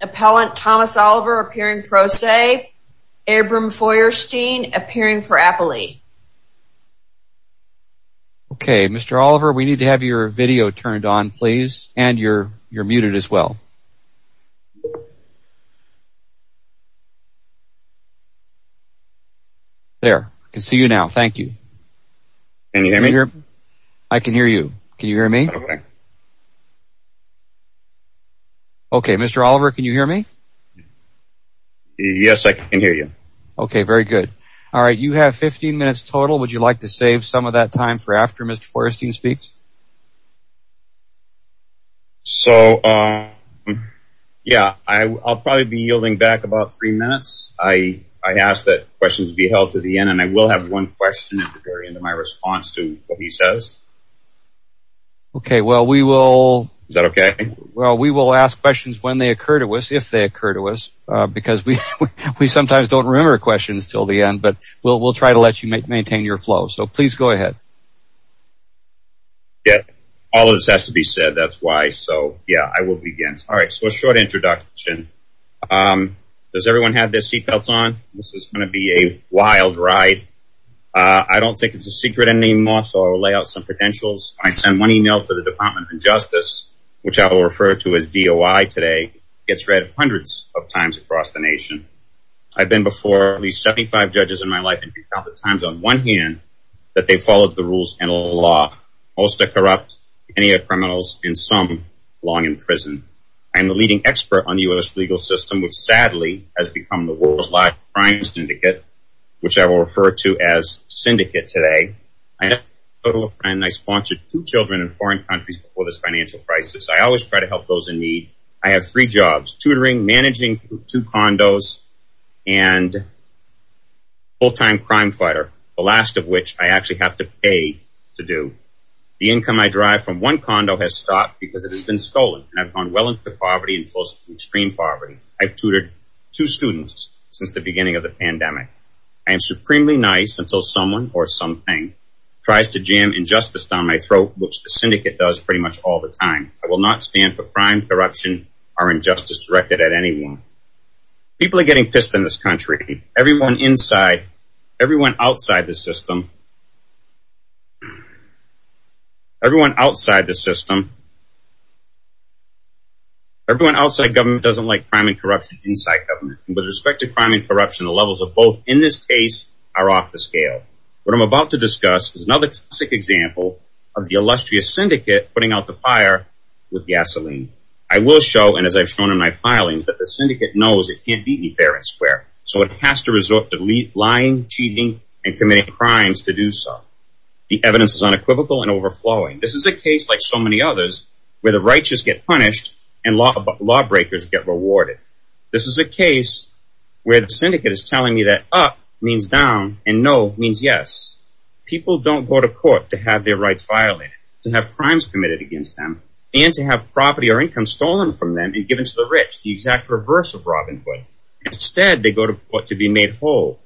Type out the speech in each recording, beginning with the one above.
APPELLANT THOMAS OLIVER APPEARING PRO SE ABRAHAM FEUERSTEIN APPEARING FOR APPELEY Mr. Oliver, we need to have your video turned on, please. And you're muted as well. There. I can see you now. Thank you. Can you hear me? I can hear you. Can you hear me? Okay, Mr. Oliver, can you hear me? Yes, I can hear you. Okay, very good. All right, you have 15 minutes total. Would you like to save some of that time for after Mr. Feuerstein speaks? So, yeah, I'll probably be yielding back about three minutes. I ask that questions be held to the end, and I will have one question at the very end of my response to what he says. Okay, well, we will ask questions when they occur to us, if they occur to us, because we sometimes don't remember questions until the end, but we'll try to let you maintain your flow. So please go ahead. All of this has to be said, that's why. So, yeah, I will begin. All right, so a short introduction. Does everyone have their seatbelts on? This is going to be a wild ride. I don't think it's a secret anymore, so I'll lay out some credentials. When I send one email to the Department of Justice, which I will refer to as DOI today, it gets read hundreds of times across the nation. I've been before at least 75 judges in my life and recounted times on one hand that they followed the rules and law. Most are corrupt, many are criminals, and some belong in prison. I am the leading expert on the U.S. legal system, which sadly has become the world's largest crime syndicate, which I will refer to as syndicate today. I have a total of five, and I sponsored two children in foreign countries before this financial crisis. I always try to help those in need. I have three jobs, tutoring, managing two condos, and full-time crime fighter, the last of which I actually have to pay to do. The income I derive from one condo has stopped because it has been stolen, and I've gone well into poverty and close to extreme poverty. I've tutored two students since the beginning of the pandemic. I am supremely nice until someone or something tries to jam injustice down my throat, which the syndicate does pretty much all the time. I will not stand for crime, corruption, or injustice directed at anyone. People are getting pissed in this country. Everyone inside, everyone outside the system, everyone outside the system, everyone outside government doesn't like crime and corruption inside government. With respect to crime and corruption, the levels of both in this case are off the scale. What I'm about to discuss is another classic example of the illustrious syndicate putting out the fire with gasoline. I will show, and as I've shown in my filings, that the syndicate knows it can't beat me fair and square. So it has to resort to lying, cheating, and committing crimes to do so. The evidence is unequivocal and overflowing. This is a case like so many others where the righteous get punished and lawbreakers get rewarded. This is a case where the syndicate is telling me that up means down and no means yes. People don't go to court to have their rights violated, to have crimes committed against them, and to have property or income stolen from them and given to the rich, the exact reverse of Robin Hood. Instead, they go to court to be made whole.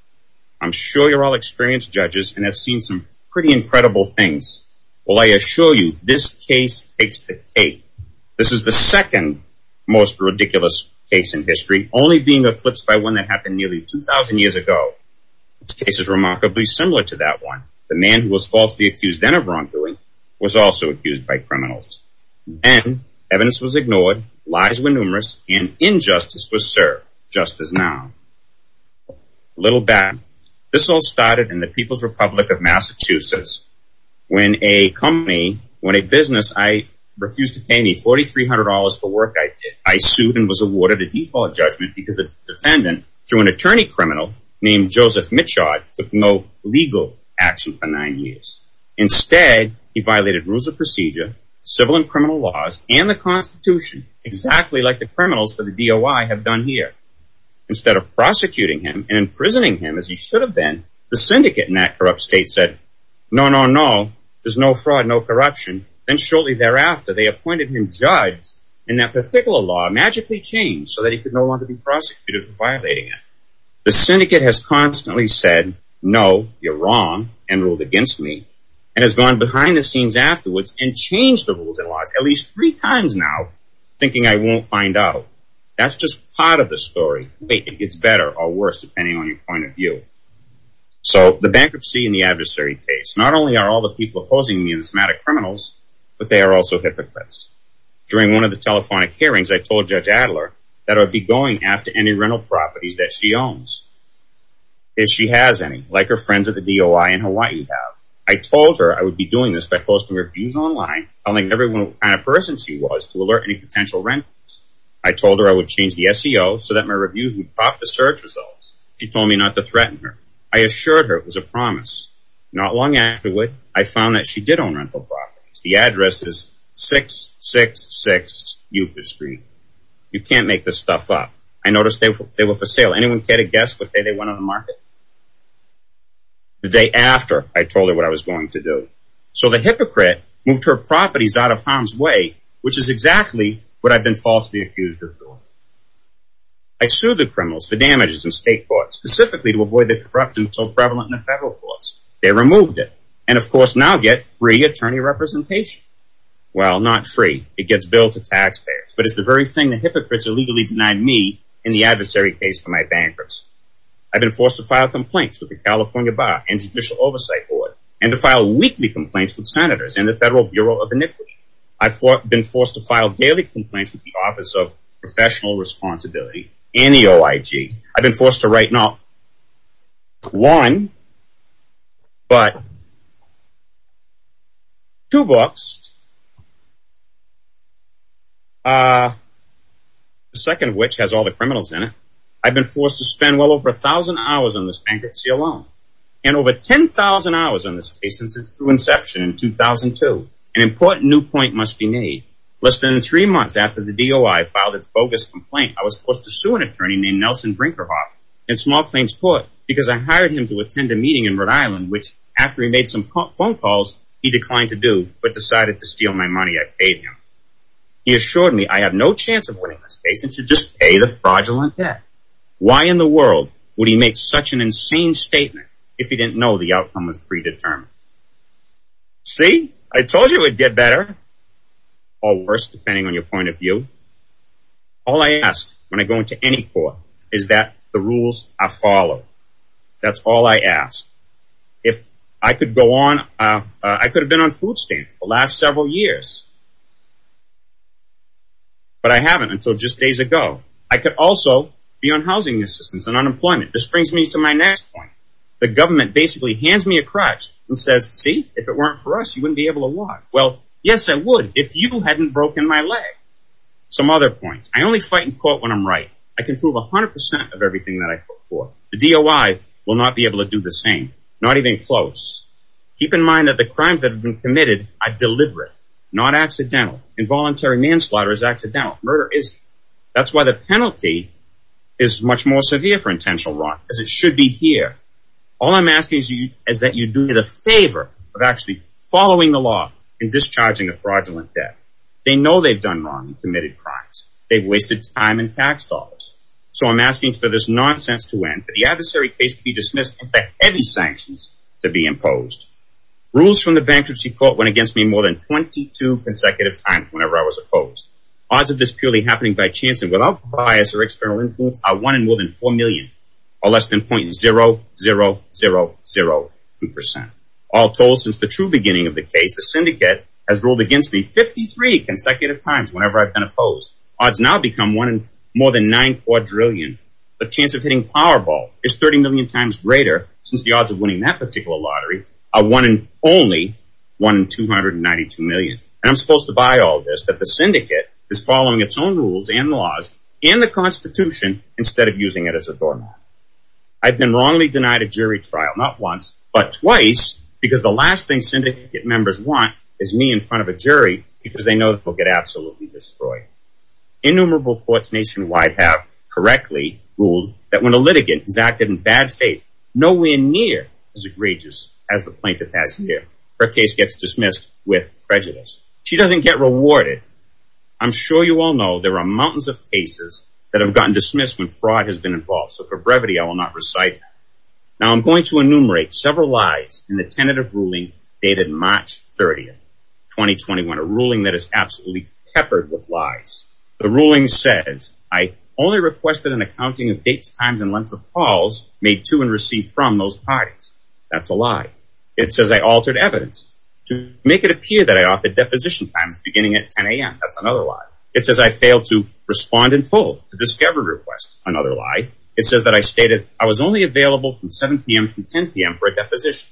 I'm sure you're all experienced judges and have seen some pretty incredible things. Well, I assure you, this case takes the cake. This is the second most ridiculous case in history, only being eclipsed by one that happened nearly 2,000 years ago. This case is remarkably similar to that one. The man who was falsely accused then of wrongdoing was also accused by criminals. Then, evidence was ignored, lies were numerous, and injustice was served, just as now. A little back, this all started in the People's Republic of Massachusetts. When a company, when a business refused to pay me $4,300 for work I did, I sued and was awarded a default judgment because the defendant, through an attorney criminal named Joseph Michaud, took no legal action for nine years. Instead, he violated rules of procedure, civil and criminal laws, and the Constitution, exactly like the criminals for the DOI have done here. Instead of prosecuting him and imprisoning him as he should have been, the syndicate in that corrupt state said, no, no, no, there's no fraud, no corruption. Then shortly thereafter, they appointed him judge, and that particular law magically changed so that he could no longer be prosecuted for violating it. The syndicate has constantly said, no, you're wrong, and ruled against me, and has gone behind the scenes afterwards and changed the rules and laws at least three times now, thinking I won't find out. That's just part of the story. Wait, it gets better or worse depending on your point of view. So, the bankruptcy and the adversary case. Not only are all the people opposing me enigmatic criminals, but they are also hypocrites. During one of the telephonic hearings, I told Judge Adler that I would be going after any rental properties that she owns, if she has any, like her friends at the DOI in Hawaii have. I told her I would be doing this by posting reviews online telling everyone what kind of person she was to alert any potential rentals. I told her I would change the SEO so that my reviews would prop the search results. She told me not to threaten her. I assured her it was a promise. Not long afterward, I found that she did own rental properties. The address is 666 Euclid Street. You can't make this stuff up. I noticed they were for sale. Anyone care to guess what day they went on the market? The day after I told her what I was going to do. So, the hypocrite moved her properties out of harm's way, which is exactly what I've been falsely accused of doing. I sued the criminals for damages in state courts, specifically to avoid the corruption so prevalent in the federal courts. They removed it. And, of course, now I get free attorney representation. Well, not free. It gets billed to taxpayers. But it's the very thing the hypocrites illegally denied me in the adversary case for my bankers. I've been forced to file complaints with the California Bar and Judicial Oversight Board and to file weekly complaints with senators and the Federal Bureau of Iniquity. I've been forced to file daily complaints with the Office of Professional Responsibility and the OIG. I've been forced to write not one, but two books. The second of which has all the criminals in it. I've been forced to spend well over 1,000 hours on this bankruptcy alone and over 10,000 hours on this case since its true inception in 2002. An important new point must be made. Less than three months after the DOI filed its bogus complaint, I was forced to sue an attorney named Nelson Brinkerhoff in Small Plains Court because I hired him to attend a meeting in Rhode Island, which, after he made some phone calls, he declined to do, but decided to steal my money I paid him. He assured me I have no chance of winning this case, and should just pay the fraudulent debt. Why in the world would he make such an insane statement if he didn't know the outcome was predetermined? See? I told you it would get better. Or worse, depending on your point of view. All I ask when I go into any court is that the rules are followed. That's all I ask. If I could go on, I could have been on food stamps for the last several years, but I haven't until just days ago. I could also be on housing assistance and unemployment. This brings me to my next point. The government basically hands me a crutch and says, see, if it weren't for us, you wouldn't be able to walk. Well, yes, I would if you hadn't broken my leg. Some other points. I only fight in court when I'm right. I can prove 100% of everything that I fought for. The DOI will not be able to do the same, not even close. Keep in mind that the crimes that have been committed are deliberate, not accidental. Involuntary manslaughter is accidental. Murder isn't. That's why the penalty is much more severe for intentional wrongs, because it should be here. All I'm asking is that you do me the favor of actually following the law and discharging the fraudulent debt. They know they've done wrong and committed crimes. They've wasted time and tax dollars. So I'm asking for this nonsense to end, for the adversary case to be dismissed, and for heavy sanctions to be imposed. Rules from the bankruptcy court went against me more than 22 consecutive times whenever I was opposed. Odds of this purely happening by chance and without bias or external influence are 1 in more than 4 million, or less than 0.00002%. All told, since the true beginning of the case, the syndicate has ruled against me 53 consecutive times whenever I've been opposed. Odds now become 1 in more than 9 quadrillion. The chance of hitting Powerball is 30 million times greater, since the odds of winning that particular lottery are 1 in only 1 in 292 million. And I'm supposed to buy all this, that the syndicate is following its own rules and laws and the Constitution instead of using it as a doormat. I've been wrongly denied a jury trial, not once, but twice, because the last thing syndicate members want is me in front of a jury because they know that they'll get absolutely destroyed. Innumerable courts nationwide have correctly ruled that when a litigant has acted in bad faith, nowhere near as egregious as the plaintiff has here. Her case gets dismissed with prejudice. She doesn't get rewarded. I'm sure you all know there are mountains of cases that have gotten dismissed when fraud has been involved, so for brevity I will not recite them. Now I'm going to enumerate several lies in the tentative ruling dated March 30, 2021, a ruling that is absolutely peppered with lies. The ruling says, I only requested an accounting of dates, times, and lengths of calls made to and received from those parties. That's a lie. It says I altered evidence to make it appear that I offered deposition times beginning at 10 a.m. That's another lie. It says I failed to respond in full to discovery requests. Another lie. It says that I stated I was only available from 7 p.m. to 10 p.m. for a deposition.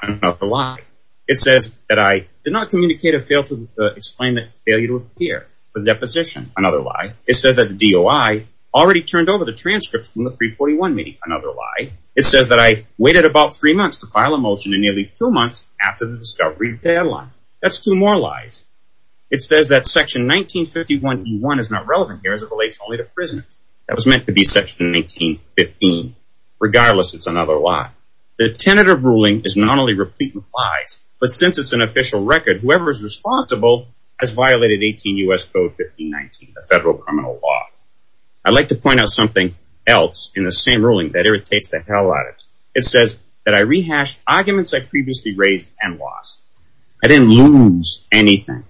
Another lie. It says that I did not communicate or fail to explain the failure to appear for deposition. Another lie. It says that the DOI already turned over the transcripts from the 341 meeting. Another lie. It says that I waited about three months to file a motion and nearly two months after the discovery deadline. That's two more lies. It says that section 1951E1 is not relevant here as it relates only to prisoners. That was meant to be section 1915. Regardless, it's another lie. The tentative ruling is not only replete with lies, but since it's an official record, whoever is responsible has violated 18 U.S. Code 1519, the federal criminal law. I'd like to point out something else in the same ruling that irritates the hell out of it. It says that I rehashed arguments I previously raised and lost. I didn't lose anything.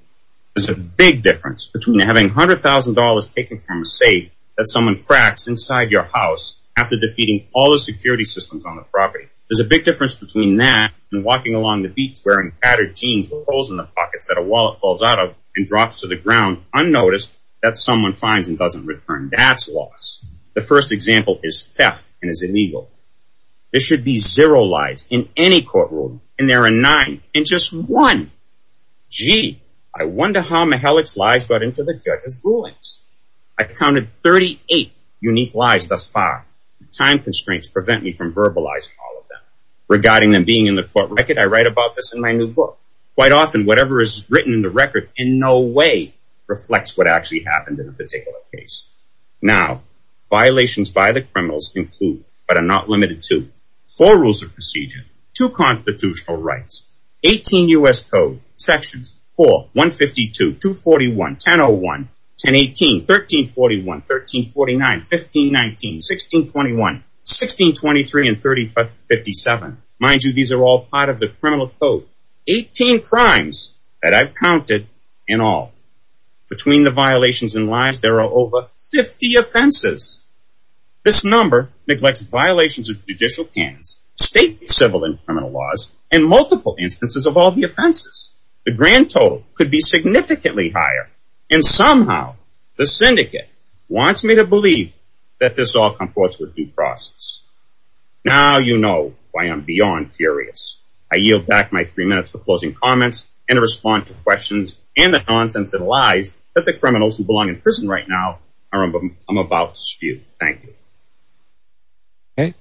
There's a big difference between having $100,000 taken from a safe that someone cracks inside your house after defeating all the security systems on the property. There's a big difference between that and walking along the beach wearing tattered jeans with holes in the pockets that a wallet falls out of and drops to the ground unnoticed that someone finds and doesn't return. That's loss. The first example is theft and is illegal. There should be zero lies in any court ruling, and there are nine and just one. I've counted 38 unique lies thus far. Time constraints prevent me from verbalizing all of them. Regarding them being in the court record, I write about this in my new book. Quite often, whatever is written in the record in no way reflects what actually happened in a particular case. Now, violations by the criminals include, but are not limited to, four rules of procedure, two constitutional rights, 18 U.S. Code, sections 4, 152, 241, 1001, 1018, 1341, 1349, 1519, 1621, 1623, and 3057. Mind you, these are all part of the criminal code. Eighteen crimes that I've counted in all. Between the violations and lies, there are over 50 offenses. This number neglects violations of judicial canons, state, civil, and criminal laws, and multiple instances of all the offenses. The grand total could be significantly higher, and somehow, the syndicate wants me to believe that this all comports with due process. Now you know why I'm beyond furious. I yield back my three minutes for closing comments and to respond to questions and the nonsense and lies that the criminals who belong in prison right now are about to spew. Thank you. Okay.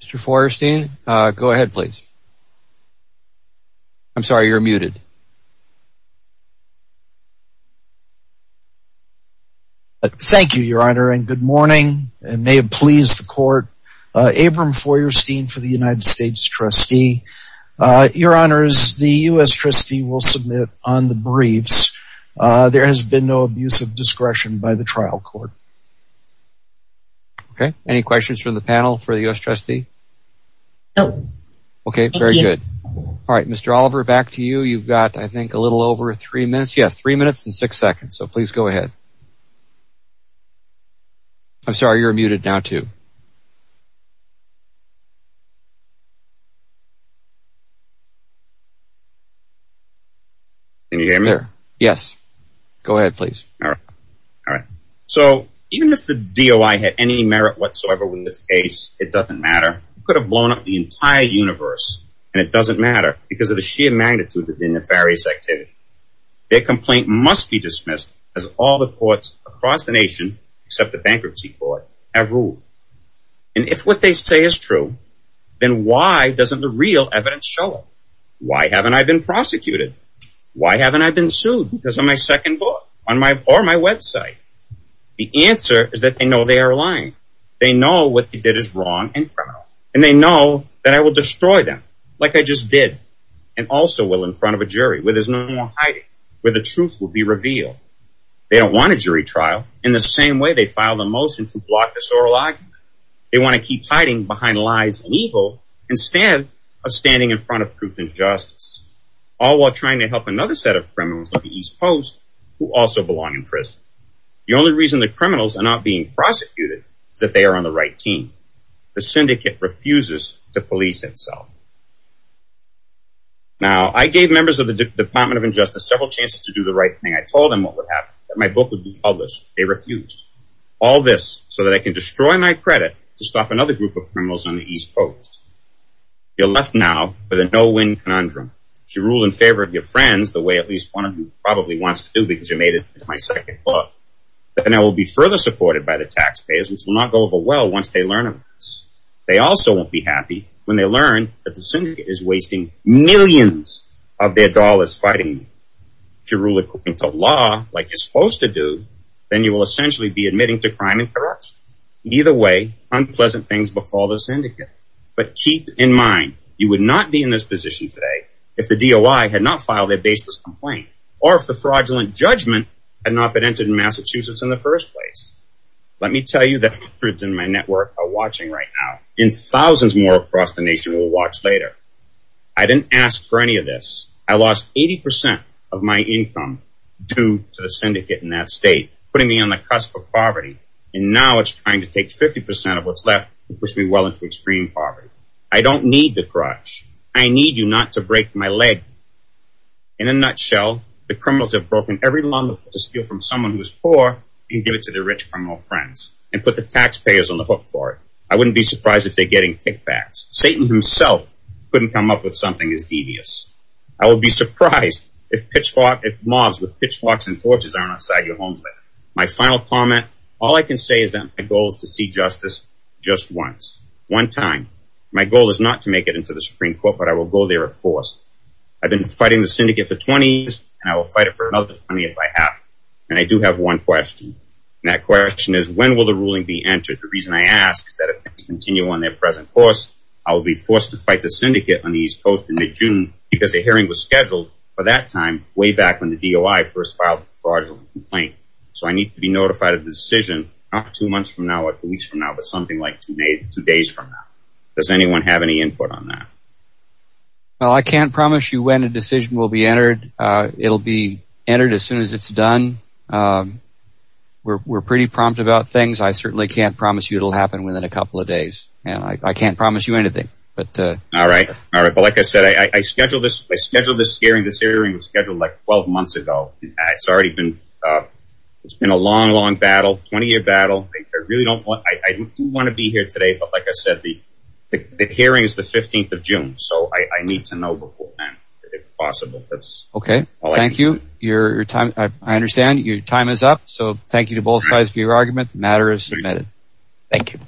Mr. Feuerstein, go ahead, please. I'm sorry, you're muted. Thank you, Your Honor, and good morning. It may have pleased the court. Abram Feuerstein for the United States Trustee. Your Honors, the U.S. Trustee will submit on the briefs. There has been no abuse of discretion by the trial court. Okay. Any questions from the panel for the U.S. Trustee? No. Okay, very good. Thank you. All right, Mr. Oliver, back to you. You've got, I think, a little over three minutes. Yes, three minutes and six seconds, so please go ahead. I'm sorry, you're muted now, too. Can you hear me? Yes. Go ahead, please. All right. So even if the DOI had any merit whatsoever with this case, it doesn't matter. It could have blown up the entire universe, and it doesn't matter because of the sheer magnitude of the nefarious activity. Their complaint must be dismissed, as all the courts across the nation, except the bankruptcy court, have ruled. And if what they say is true, then why doesn't the real evidence show it? Why haven't I been prosecuted? Why haven't I been sued? Because of my second book or my website. The answer is that they know they are lying. They know what they did is wrong and criminal, and they know that I will destroy them like I just did and also will in front of a jury where there's no more hiding, where the truth will be revealed. They don't want a jury trial. In the same way, they filed a motion to block this oral argument. They want to keep hiding behind lies and evil instead of standing in front of truth and justice, all while trying to help another set of criminals on the East Coast who also belong in prison. The only reason the criminals are not being prosecuted is that they are on the right team. The syndicate refuses to police itself. Now, I gave members of the Department of Injustice several chances to do the right thing. I told them what would happen, that my book would be published. They refused. All this so that I can destroy my credit to stop another group of criminals on the East Coast. You're left now with a no-win conundrum. If you rule in favor of your friends, the way at least one of you probably wants to do because you made it into my second book, then I will be further supported by the taxpayers, which will not go over well once they learn of this. They also won't be happy when they learn that the syndicate is wasting millions of their dollars fighting me. If you rule according to law, like you're supposed to do, then you will essentially be admitting to crime and corruption. Either way, unpleasant things befall the syndicate. But keep in mind, you would not be in this position today if the DOI had not filed a baseless complaint or if the fraudulent judgment had not been entered in Massachusetts in the first place. Let me tell you that hundreds in my network are watching right now and thousands more across the nation will watch later. I didn't ask for any of this. I lost 80% of my income due to the syndicate in that state, putting me on the cusp of poverty. And now it's trying to take 50% of what's left and push me well into extreme poverty. I don't need the crutch. I need you not to break my leg. In a nutshell, the criminals have broken every law to steal from someone who is poor and give it to their rich criminal friends and put the taxpayers on the hook for it. I wouldn't be surprised if they're getting kickbacks. Satan himself couldn't come up with something as devious. I would be surprised if mobs with pitchforks and torches are on the side of your homes later. My final comment, all I can say is that my goal is to see justice just once, one time. My goal is not to make it into the Supreme Court, but I will go there if forced. I've been fighting the syndicate for 20 years, and I will fight it for another 20 if I have to. And I do have one question, and that question is, when will the ruling be entered? The reason I ask is that if things continue on their present course, I will be forced to fight the syndicate on the East Coast in mid-June because a hearing was scheduled for that time, way back when the DOI first filed the fraudulent complaint. So I need to be notified of the decision not two months from now or two weeks from now, but something like two days from now. Does anyone have any input on that? Well, I can't promise you when a decision will be entered. It'll be entered as soon as it's done. We're pretty prompt about things. I certainly can't promise you it'll happen within a couple of days. I can't promise you anything, but... All right, all right, but like I said, I scheduled this hearing. This hearing was scheduled, like, 12 months ago. It's already been a long, long battle, 20-year battle. I really don't want to be here today, but like I said, the hearing is the 15th of June, so I need to know before then, if possible. Okay, thank you. I understand your time is up, so thank you to both sides for your argument. The matter is submitted. Thank you.